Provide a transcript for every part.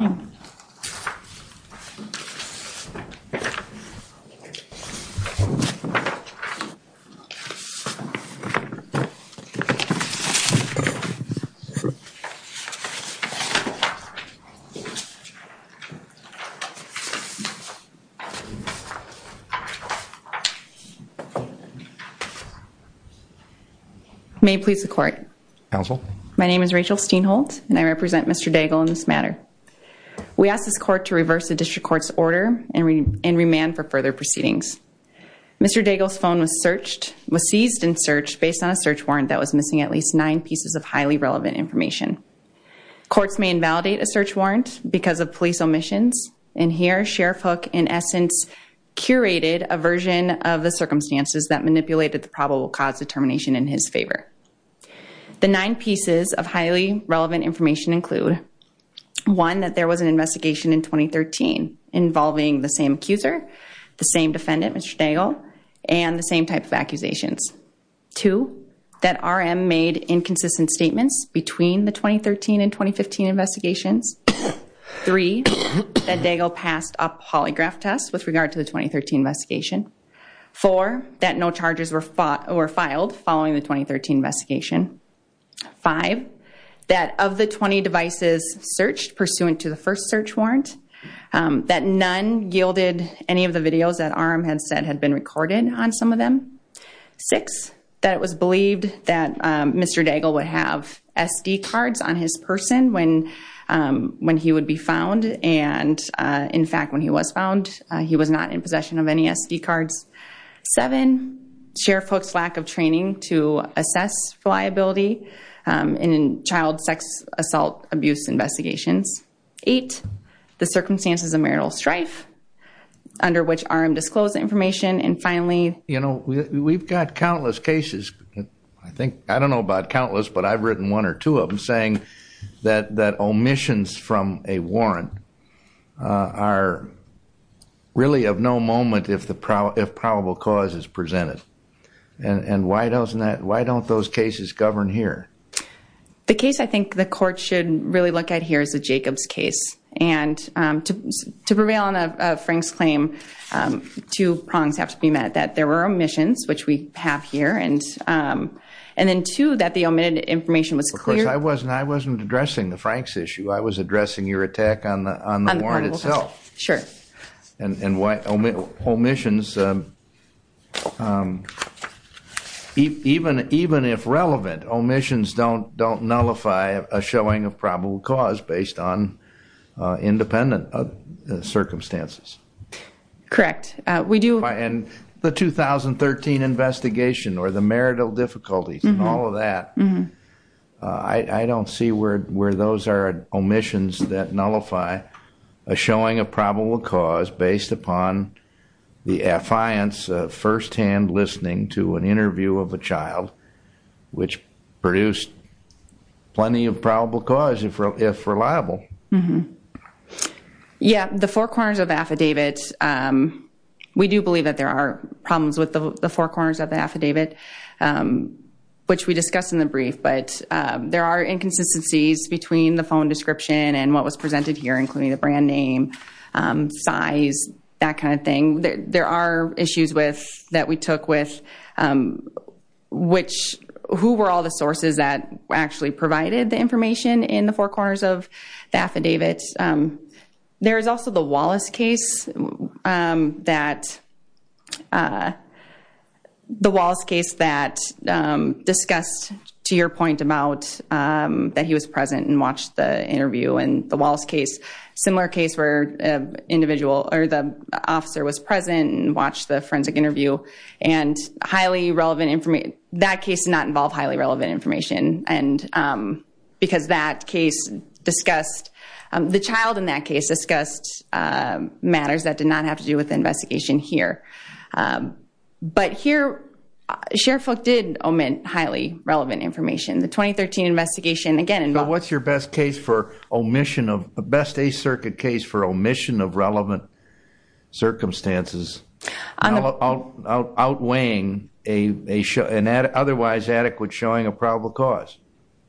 May it please the court. Counsel. My name is Rachel Steinholtz and I represent Mr. Daigle in this matter. We ask this court to reverse the district court's order and remand for further proceedings. Mr. Daigle's phone was searched, was seized and searched based on a search warrant that was missing at least nine pieces of highly relevant information. Courts may invalidate a search warrant because of police omissions and here Sheriff Hook in essence curated a version of the circumstances that manipulated the probable cause determination in his favor. The nine pieces of highly relevant information include one that there was an investigation in 2013 involving the same accuser, the same defendant Mr. Daigle and the same type of accusations. Two, that RM made inconsistent statements between the 2013 and 2015 investigations. Three, that Daigle passed a polygraph test with regard to the 2013 investigation. Four, that no charges were filed following the 2013 investigation. Five, that of the 20 devices searched pursuant to the first search warrant, that none yielded any of the videos that RM had said had been recorded on some of them. Six, that it was believed that Mr. Daigle would have SD cards on his person when he would be found and in fact when he was found he was not in possession of any SD cards. Seven, Sheriff Hook's lack of training to assess reliability in child sex assault abuse investigations. Eight, the circumstances of marital strife under which RM disclosed the information and finally... You know, we've got countless cases, I think, I don't know about countless but I've written one or two of them saying that omissions from a warrant are really of no moment if probable cause is presented. And why don't those cases govern here? The case I think the court should really look at here is the Jacobs case. And to prevail on a Frank's claim, two prongs have to be met. That there were omissions, which we have here, and then two, that the omitted information was clear. Of course, I wasn't addressing the Frank's issue. I was addressing your attack on the warrant itself. And why omissions... Even if relevant, omissions don't nullify a showing of probable cause based on independent circumstances. Correct. And the 2013 investigation or the marital difficulties and all of that, I don't see where those are omissions that nullify a showing of probable cause based upon the affiance of first-hand listening to an interview of a child, which produced plenty of probable cause if reliable. Yeah, the four corners of the affidavit. We do believe that there are problems with the four corners of the affidavit, which we discussed in the brief, but there are inconsistencies between the phone description and what was presented here, including the brand name, size, that kind of thing. There are issues that we took with who were all the sources that actually provided the affidavit. There is also the Wallace case that discussed, to your point, that he was present and watched the interview. And the Wallace case, similar case where the officer was present and watched the forensic interview. That case did not involve highly relevant information because the child in that case discussed matters that did not have to do with the investigation here. But here, Sheriff Hook did omit highly relevant information. The 2013 investigation, again, involved... What's your best case for omission of, best Eighth Circuit case for omission of relevant circumstances? Outweighing an otherwise adequate showing of probable cause.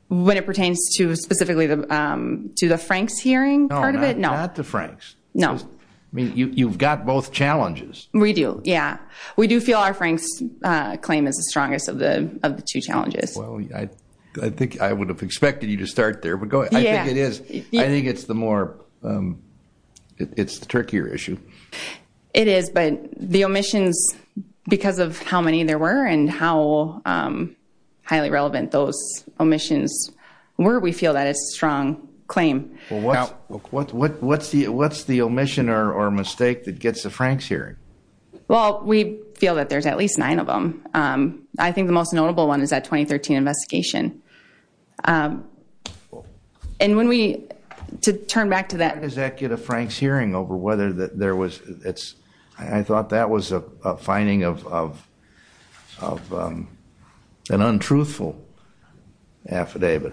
When it pertains to specifically to the Franks hearing part of it? No. Not the Franks. No. You've got both challenges. We do. Yeah. We do feel our Franks claim is the strongest of the two challenges. Well, I think I would have expected you to start there, but go ahead. Yeah. I think it is. I think it's the more, it's the trickier issue. It is, but the omissions, because of how many there were and how highly relevant those omissions were, we feel that it's a strong claim. What's the omission or mistake that gets the Franks hearing? Well, we feel that there's at least nine of them. I think the most notable one is that 2013 investigation. And when we, to turn back to that... I thought that was a finding of an untruthful affidavit.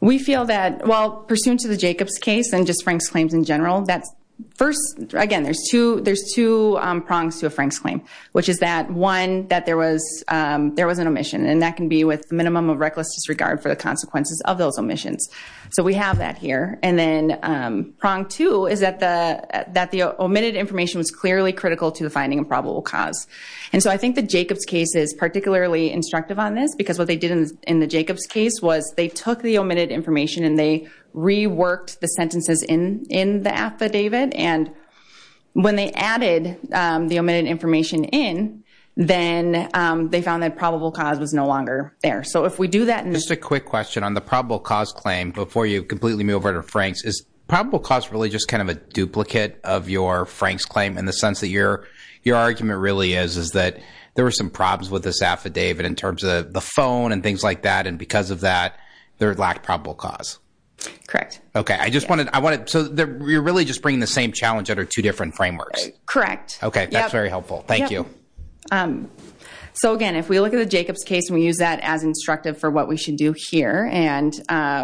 We feel that, well, pursuant to the Jacobs case and just Franks claims in general, that's first, again, there's two prongs to a Franks claim. Which is that, one, that there was an omission. And that can be with minimum of reckless disregard for the consequences of those omissions. So we have that here. And then prong two is that the omitted information was clearly critical to the finding of probable cause. And so I think the Jacobs case is particularly instructive on this. Because what they did in the Jacobs case was they took the omitted information and they reworked the sentences in the affidavit. And when they added the omitted information in, then they found that probable cause was no longer there. So if we do that... Just a quick question on the probable cause claim before you completely move over to Franks. Is probable cause really just kind of a duplicate of your Franks claim in the sense that your argument really is that there were some problems with this affidavit in terms of the phone and things like that. And because of that, there lacked probable cause? Correct. Okay. I just wanted... So you're really just bringing the same challenge under two different frameworks? Correct. Okay. That's very helpful. Thank you. So again, if we look at the Jacobs case and we use that as instructive for what we should do here, and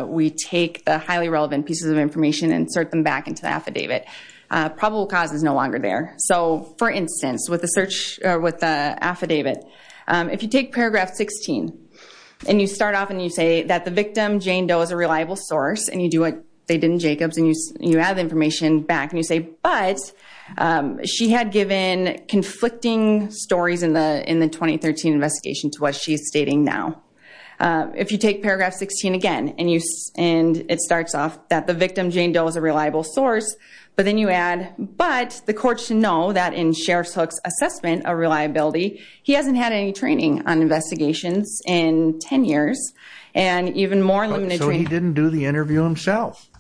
we take the highly relevant pieces of information and insert them back into the affidavit, probable cause is no longer there. So for instance, with the affidavit, if you take paragraph 16 and you start off and you say that the victim, Jane Doe, is a reliable source, and you do what they did in Jacobs and you add the information back and you say, but she had given conflicting stories in the 2013 investigation to what she's stating now. If you take paragraph 16 again and it starts off that the victim, Jane Doe, is a reliable source, but then you add, but the court should know that in Sheriff's Hook's assessment of reliability, he hasn't had any training on investigations in 10 years, and even more limited training... So he didn't do the interview himself?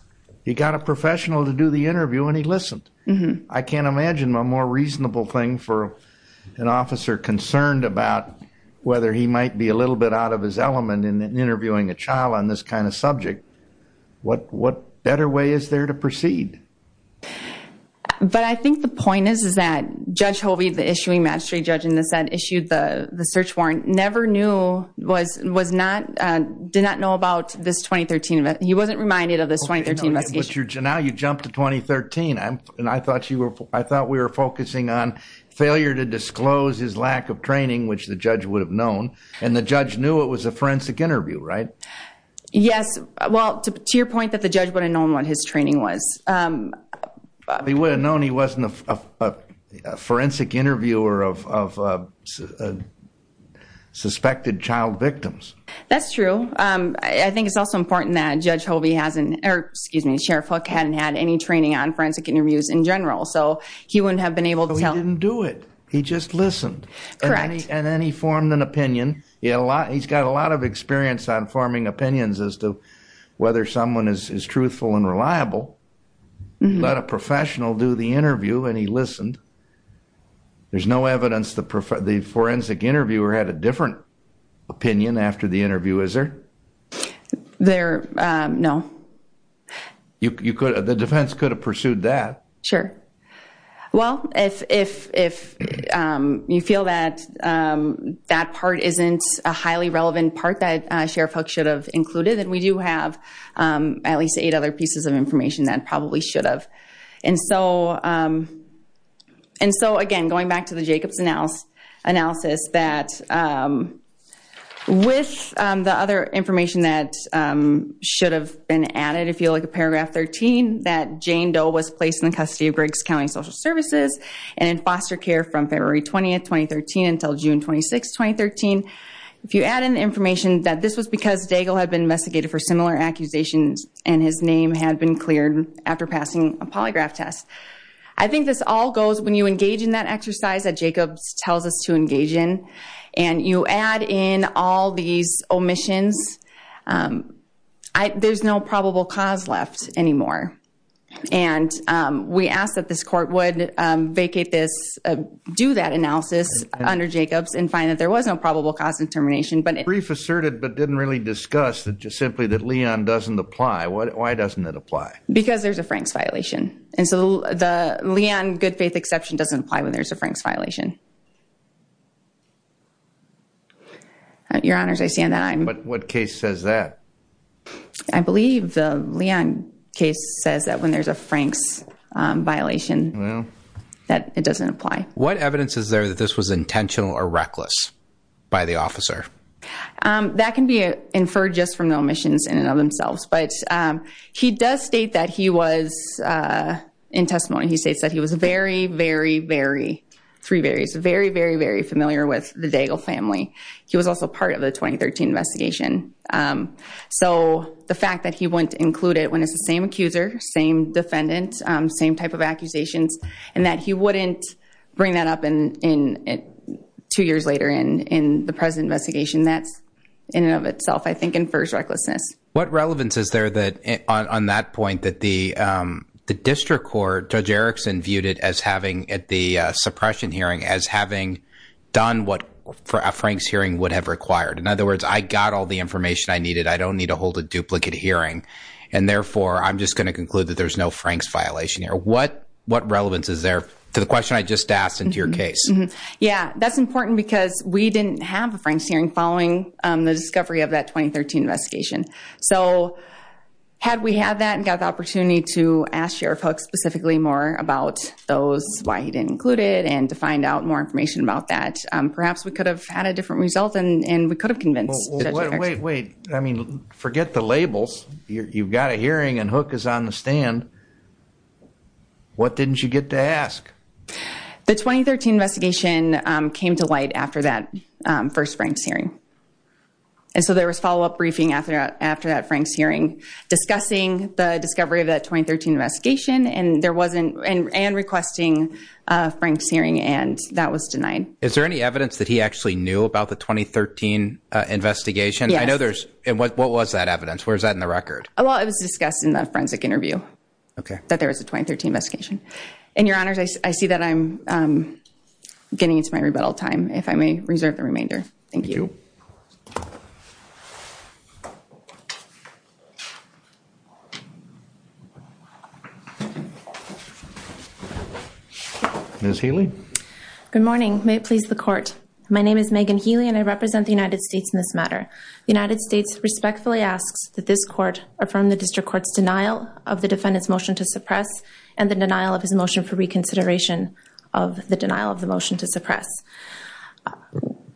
He got a professional to do the interview and he listened. I can't imagine a more reasonable thing for an officer concerned about whether he might be a little bit out of his element in interviewing a child on this kind of subject. What better way is there to proceed? But I think the point is that Judge Hovey, the issuing magistrate judge in the Senate, issued the search warrant, never knew, did not know about this 2013 event. He wasn't reminded of this 2013 investigation. Now you jump to 2013 and I thought we were focusing on failure to disclose his lack of training, which the judge would have known, and the judge knew it was a forensic interview, right? Yes. Well, to your point that the judge would have known what his training was. He would have known he wasn't a forensic interviewer of suspected child victims. That's true. I think it's also important that Judge Hovey hasn't, or excuse me, Sheriff Hook hadn't had any training on forensic interviews in general. So he wouldn't have been able to tell. But he didn't do it. He just listened. Correct. And then he formed an opinion. He's got a lot of experience on forming opinions as to whether someone is truthful and reliable. Let a professional do the interview and he listened. There's no evidence the forensic interviewer had a different opinion after the interview, is there? There, no. The defense could have pursued that. Sure. Well, if you feel that that part isn't a highly relevant part that Sheriff Hook should have included, then we do have at least eight other pieces of information that probably should have. And so, again, going back to the Jacobs analysis, that with the other information that should have been added, if you look at paragraph 13, that Jane Doe was placed in the custody of Briggs County Social Services and in foster care from February 20th, 2013 until June 26th, 2013. If you add in the information that this was because Daigle had been investigated for similar polygraph tests, I think this all goes when you engage in that exercise that Jacobs tells us to engage in and you add in all these omissions, there's no probable cause left anymore. And we asked that this court would vacate this, do that analysis under Jacobs and find that there was no probable cause of termination. But brief asserted, but didn't really discuss that just simply that Leon doesn't apply. Why doesn't it apply? Because there's a Franks violation. And so the Leon good faith exception doesn't apply when there's a Franks violation. Your honors, I stand on- But what case says that? I believe the Leon case says that when there's a Franks violation, that it doesn't apply. What evidence is there that this was intentional or reckless by the officer? That can be inferred just from the omissions in and of themselves. But he does state that he was, in testimony he states that he was very, very, very, three verys, very, very, very familiar with the Daigle family. He was also part of the 2013 investigation. So the fact that he wouldn't include it when it's the same accuser, same defendant, same type of accusations, and that he wouldn't bring that up two years later in the present investigation, that's in and of itself I think infers recklessness. What relevance is there on that point that the district court, Judge Erickson viewed it as having at the suppression hearing as having done what a Franks hearing would have required? In other words, I got all the information I needed. I don't need to hold a duplicate hearing. And therefore, I'm just going to conclude that there's no Franks violation here. What relevance is there to the question I just asked and to your case? Yeah, that's important because we didn't have a Franks hearing following the discovery of that 2013 investigation. So had we had that and got the opportunity to ask Sheriff Hook specifically more about those why he didn't include it and to find out more information about that, perhaps we could have had a different result and we could have convinced Judge Erickson. Wait, wait, wait. I mean, forget the labels. You've got a hearing and Hook is on the stand. What didn't you get to ask? The 2013 investigation came to light after that first Franks hearing. And so there was follow-up briefing after that Franks hearing discussing the discovery of that 2013 investigation and there wasn't, and requesting a Franks hearing and that was denied. Is there any evidence that he actually knew about the 2013 investigation? Yes. I know there's, and what was that evidence? Where's that in the record? Well, it was discussed in the forensic interview. Okay. That there was a 2013 investigation. And Your Honors, I see that I'm getting into my rebuttal time, if I may reserve the remainder. Thank you. Thank you. Ms. Healy? Good morning. May it please the Court. My name is Megan Healy and I represent the United States in this matter. The United States respectfully asks that this Court affirm the District Court's denial of the defendant's motion to suppress and the denial of his motion for reconsideration of the denial of the motion to suppress.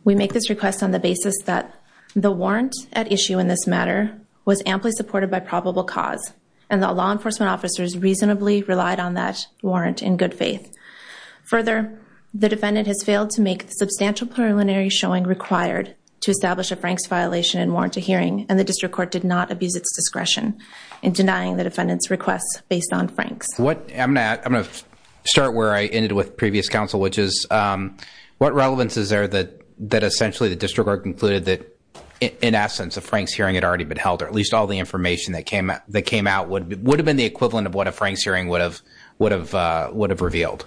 We make this request on the basis that the warrant at issue in this matter was amply supported by probable cause and that law enforcement officers reasonably relied on that warrant in good faith. Further, the defendant has failed to make the substantial preliminary showing required to establish a Franks violation and warrant a hearing and the District Court did not abuse its discretion in denying the defendant's request based on Franks. I'm going to start where I ended with previous counsel, which is what relevance is there that essentially the District Court concluded that in essence a Franks hearing had already been held or at least all the information that came out would have been the equivalent of what a Franks hearing would have revealed?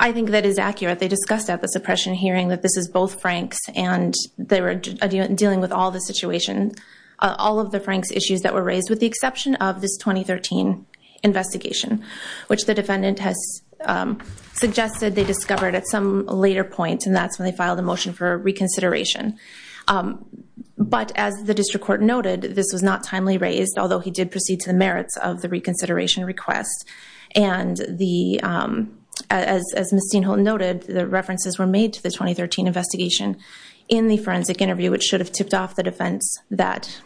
I think that is accurate. They discussed at the suppression hearing that this is both Franks and they were dealing with all the situation, all of the Franks issues that were raised with the exception of this 2013 investigation, which the defendant has suggested they discovered at some later point and that's when they filed a motion for reconsideration. But as the District Court noted, this was not timely raised, although he did proceed to the merits of the reconsideration request and as Ms. Steinholten noted, the references were made to the 2013 investigation in the forensic interview, which should have tipped off the defense that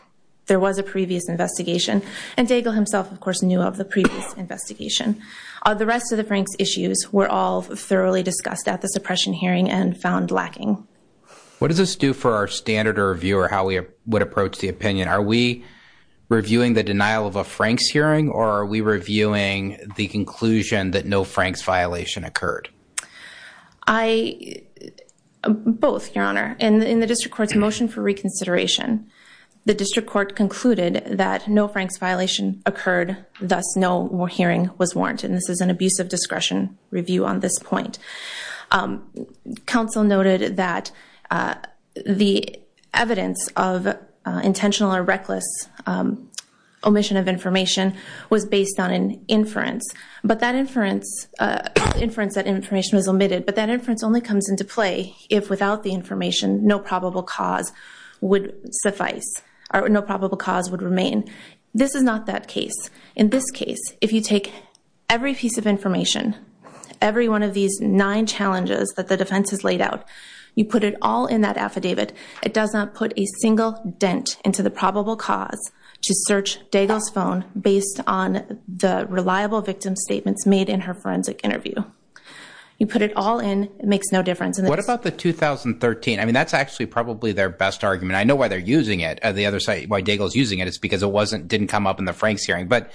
there was a previous investigation and Daigle himself, of course, knew of the previous investigation. The rest of the Franks issues were all thoroughly discussed at the suppression hearing and found lacking. What does this do for our standard of review or how we would approach the opinion? Are we reviewing the denial of a Franks hearing or are we reviewing the conclusion that no Franks violation occurred? Both, Your Honor. In the District Court's motion for reconsideration, the District Court concluded that no Franks violation occurred, thus no hearing was warranted and this is an abuse of discretion review on this point. Counsel noted that the evidence of intentional or reckless omission of information was based on an inference, but that inference only comes into play if without the information, no probable cause would suffice or no probable cause would remain. This is not that case. In this case, if you take every piece of information, every one of these nine challenges that the defense has laid out, you put it all in that affidavit, it does not put a single dent into the probable cause to search Daigle's phone based on the reliable victim statements made in her forensic interview. You put it all in. It makes no difference. What about the 2013? I mean, that's actually probably their best argument. I know why they're using it at the other site, why Daigle's using it. It's because it wasn't, didn't come up in the Franks hearing. But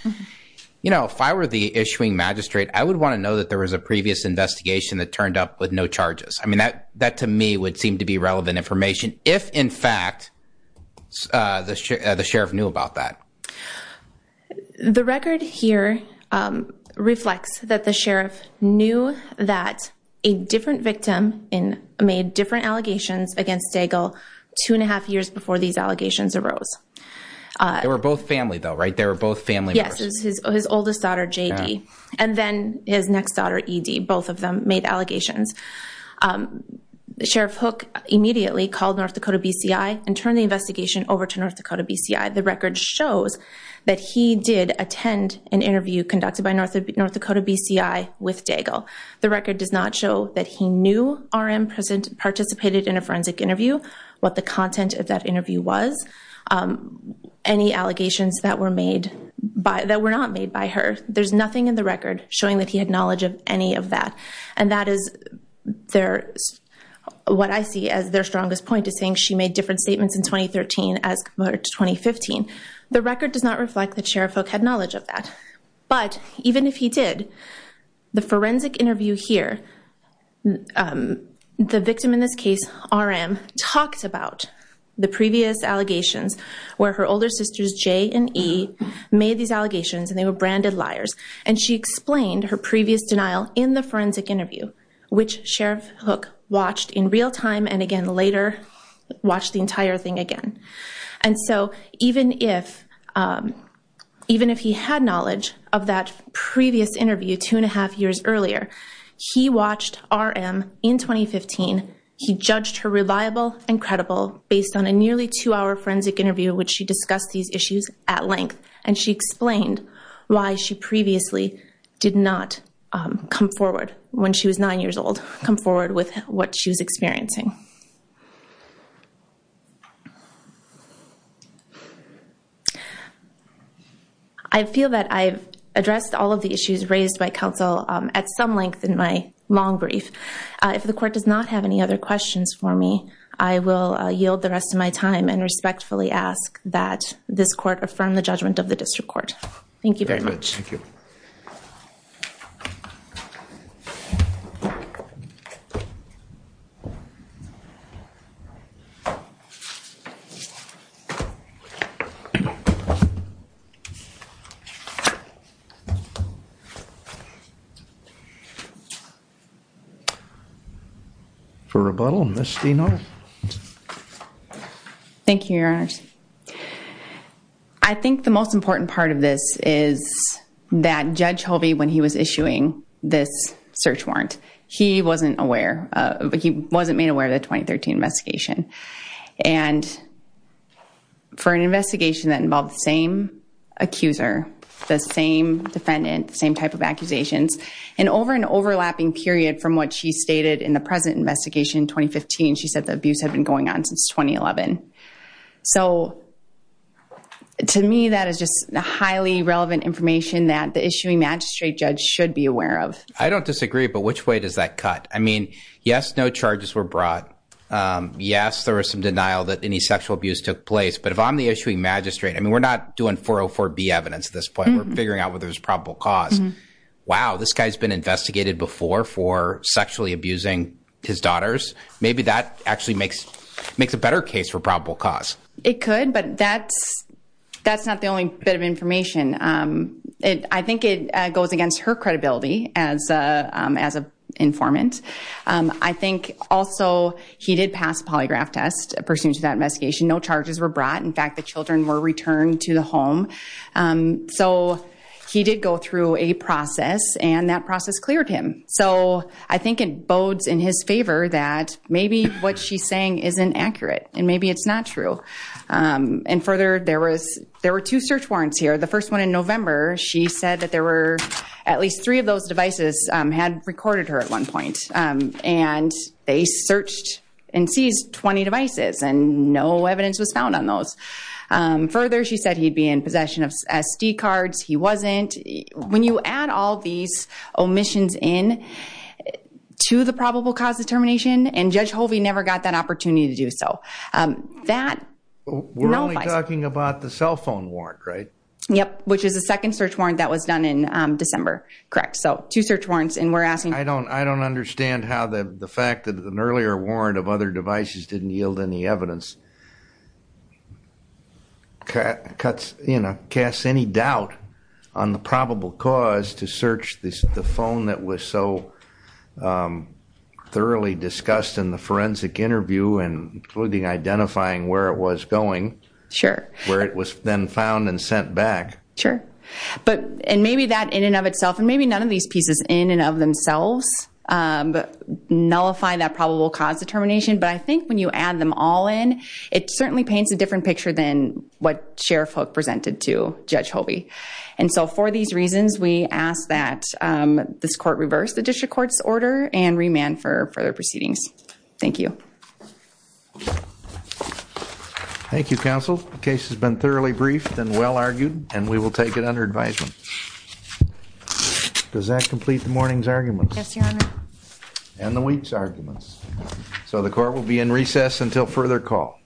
you know, if I were the issuing magistrate, I would want to know that there was a previous investigation that turned up with no charges. I mean, that to me would seem to be relevant information if in fact the sheriff knew about that. The record here reflects that the sheriff knew that a different victim made different allegations against Daigle two and a half years before these allegations arose. They were both family though, right? They were both family members. Yes. His oldest daughter, JD. And then his next daughter, ED. Both of them made allegations. Sheriff Hook immediately called North Dakota BCI and turned the investigation over to North Dakota BCI. The record shows that he did attend an interview conducted by North Dakota BCI with Daigle. The record does not show that he knew RM participated in a forensic interview, what the content of that interview was, any allegations that were made by, that were not made by her. There's nothing in the record showing that he had knowledge of any of that. And that is their, what I see as their strongest point is saying she made different statements in 2013 as compared to 2015. The record does not reflect that Sheriff Hook had knowledge of that. But even if he did, the forensic interview here, the victim in this case, RM, talks about the previous allegations where her older sisters, J and E, made these allegations and they were And she explained her previous denial in the forensic interview, which Sheriff Hook watched in real time and again later watched the entire thing again. And so even if, even if he had knowledge of that previous interview two and a half years earlier, he watched RM in 2015. He judged her reliable and credible based on a nearly two hour forensic interview, which she discussed these issues at length. And she explained why she previously did not come forward when she was nine years old, come forward with what she was experiencing. I feel that I've addressed all of the issues raised by counsel at some length in my long brief. If the court does not have any other questions for me, I will yield the rest of my time and judgment of the district court. Thank you very much. Thank you. For rebuttal, Ms. Steno. Thank you, Your Honor. I think the most important part of this is that Judge Hovey, when he was issuing this search warrant, he wasn't aware, he wasn't made aware of the 2013 investigation. And for an investigation that involved the same accuser, the same defendant, the same type of accusations, and over an overlapping period from what she stated in the present investigation in 2015, she said the abuse had been going on since 2011. So, to me, that is just highly relevant information that the issuing magistrate judge should be aware of. I don't disagree, but which way does that cut? I mean, yes, no charges were brought. Yes, there was some denial that any sexual abuse took place. But if I'm the issuing magistrate, I mean, we're not doing 404B evidence at this point. We're figuring out whether there's probable cause. Wow, this guy's been investigated before for sexually abusing his daughters. Maybe that actually makes a better case for probable cause. It could, but that's not the only bit of information. I think it goes against her credibility as an informant. I think also he did pass a polygraph test pursuant to that investigation. No charges were brought. In fact, the children were returned to the home. So he did go through a process, and that process cleared him. So I think it bodes in his favor that maybe what she's saying isn't accurate, and maybe it's not true. And further, there were two search warrants here. The first one in November, she said that there were at least three of those devices had recorded her at one point, and they searched and seized 20 devices, and no evidence was found on those. Further, she said he'd be in possession of SD cards. He wasn't. When you add all these omissions in to the probable cause determination, and Judge Hovey never got that opportunity to do so, that nullifies it. We're only talking about the cell phone warrant, right? Yep, which is the second search warrant that was done in December. Correct. So two search warrants, and we're asking- I don't understand how the fact that an earlier warrant of other devices didn't yield any cuts, you know, casts any doubt on the probable cause to search the phone that was so thoroughly discussed in the forensic interview, including identifying where it was going, where it was then found and sent back. Sure. And maybe that in and of itself, and maybe none of these pieces in and of themselves nullify that probable cause determination, but I think when you add them all in, it certainly paints a different picture than what Sheriff Hook presented to Judge Hovey. And so for these reasons, we ask that this court reverse the district court's order and remand for further proceedings. Thank you. Thank you, counsel. The case has been thoroughly briefed and well argued, and we will take it under advisement. Does that complete the morning's arguments? Yes, your honor. And the week's arguments. So the court will be in recess until further call.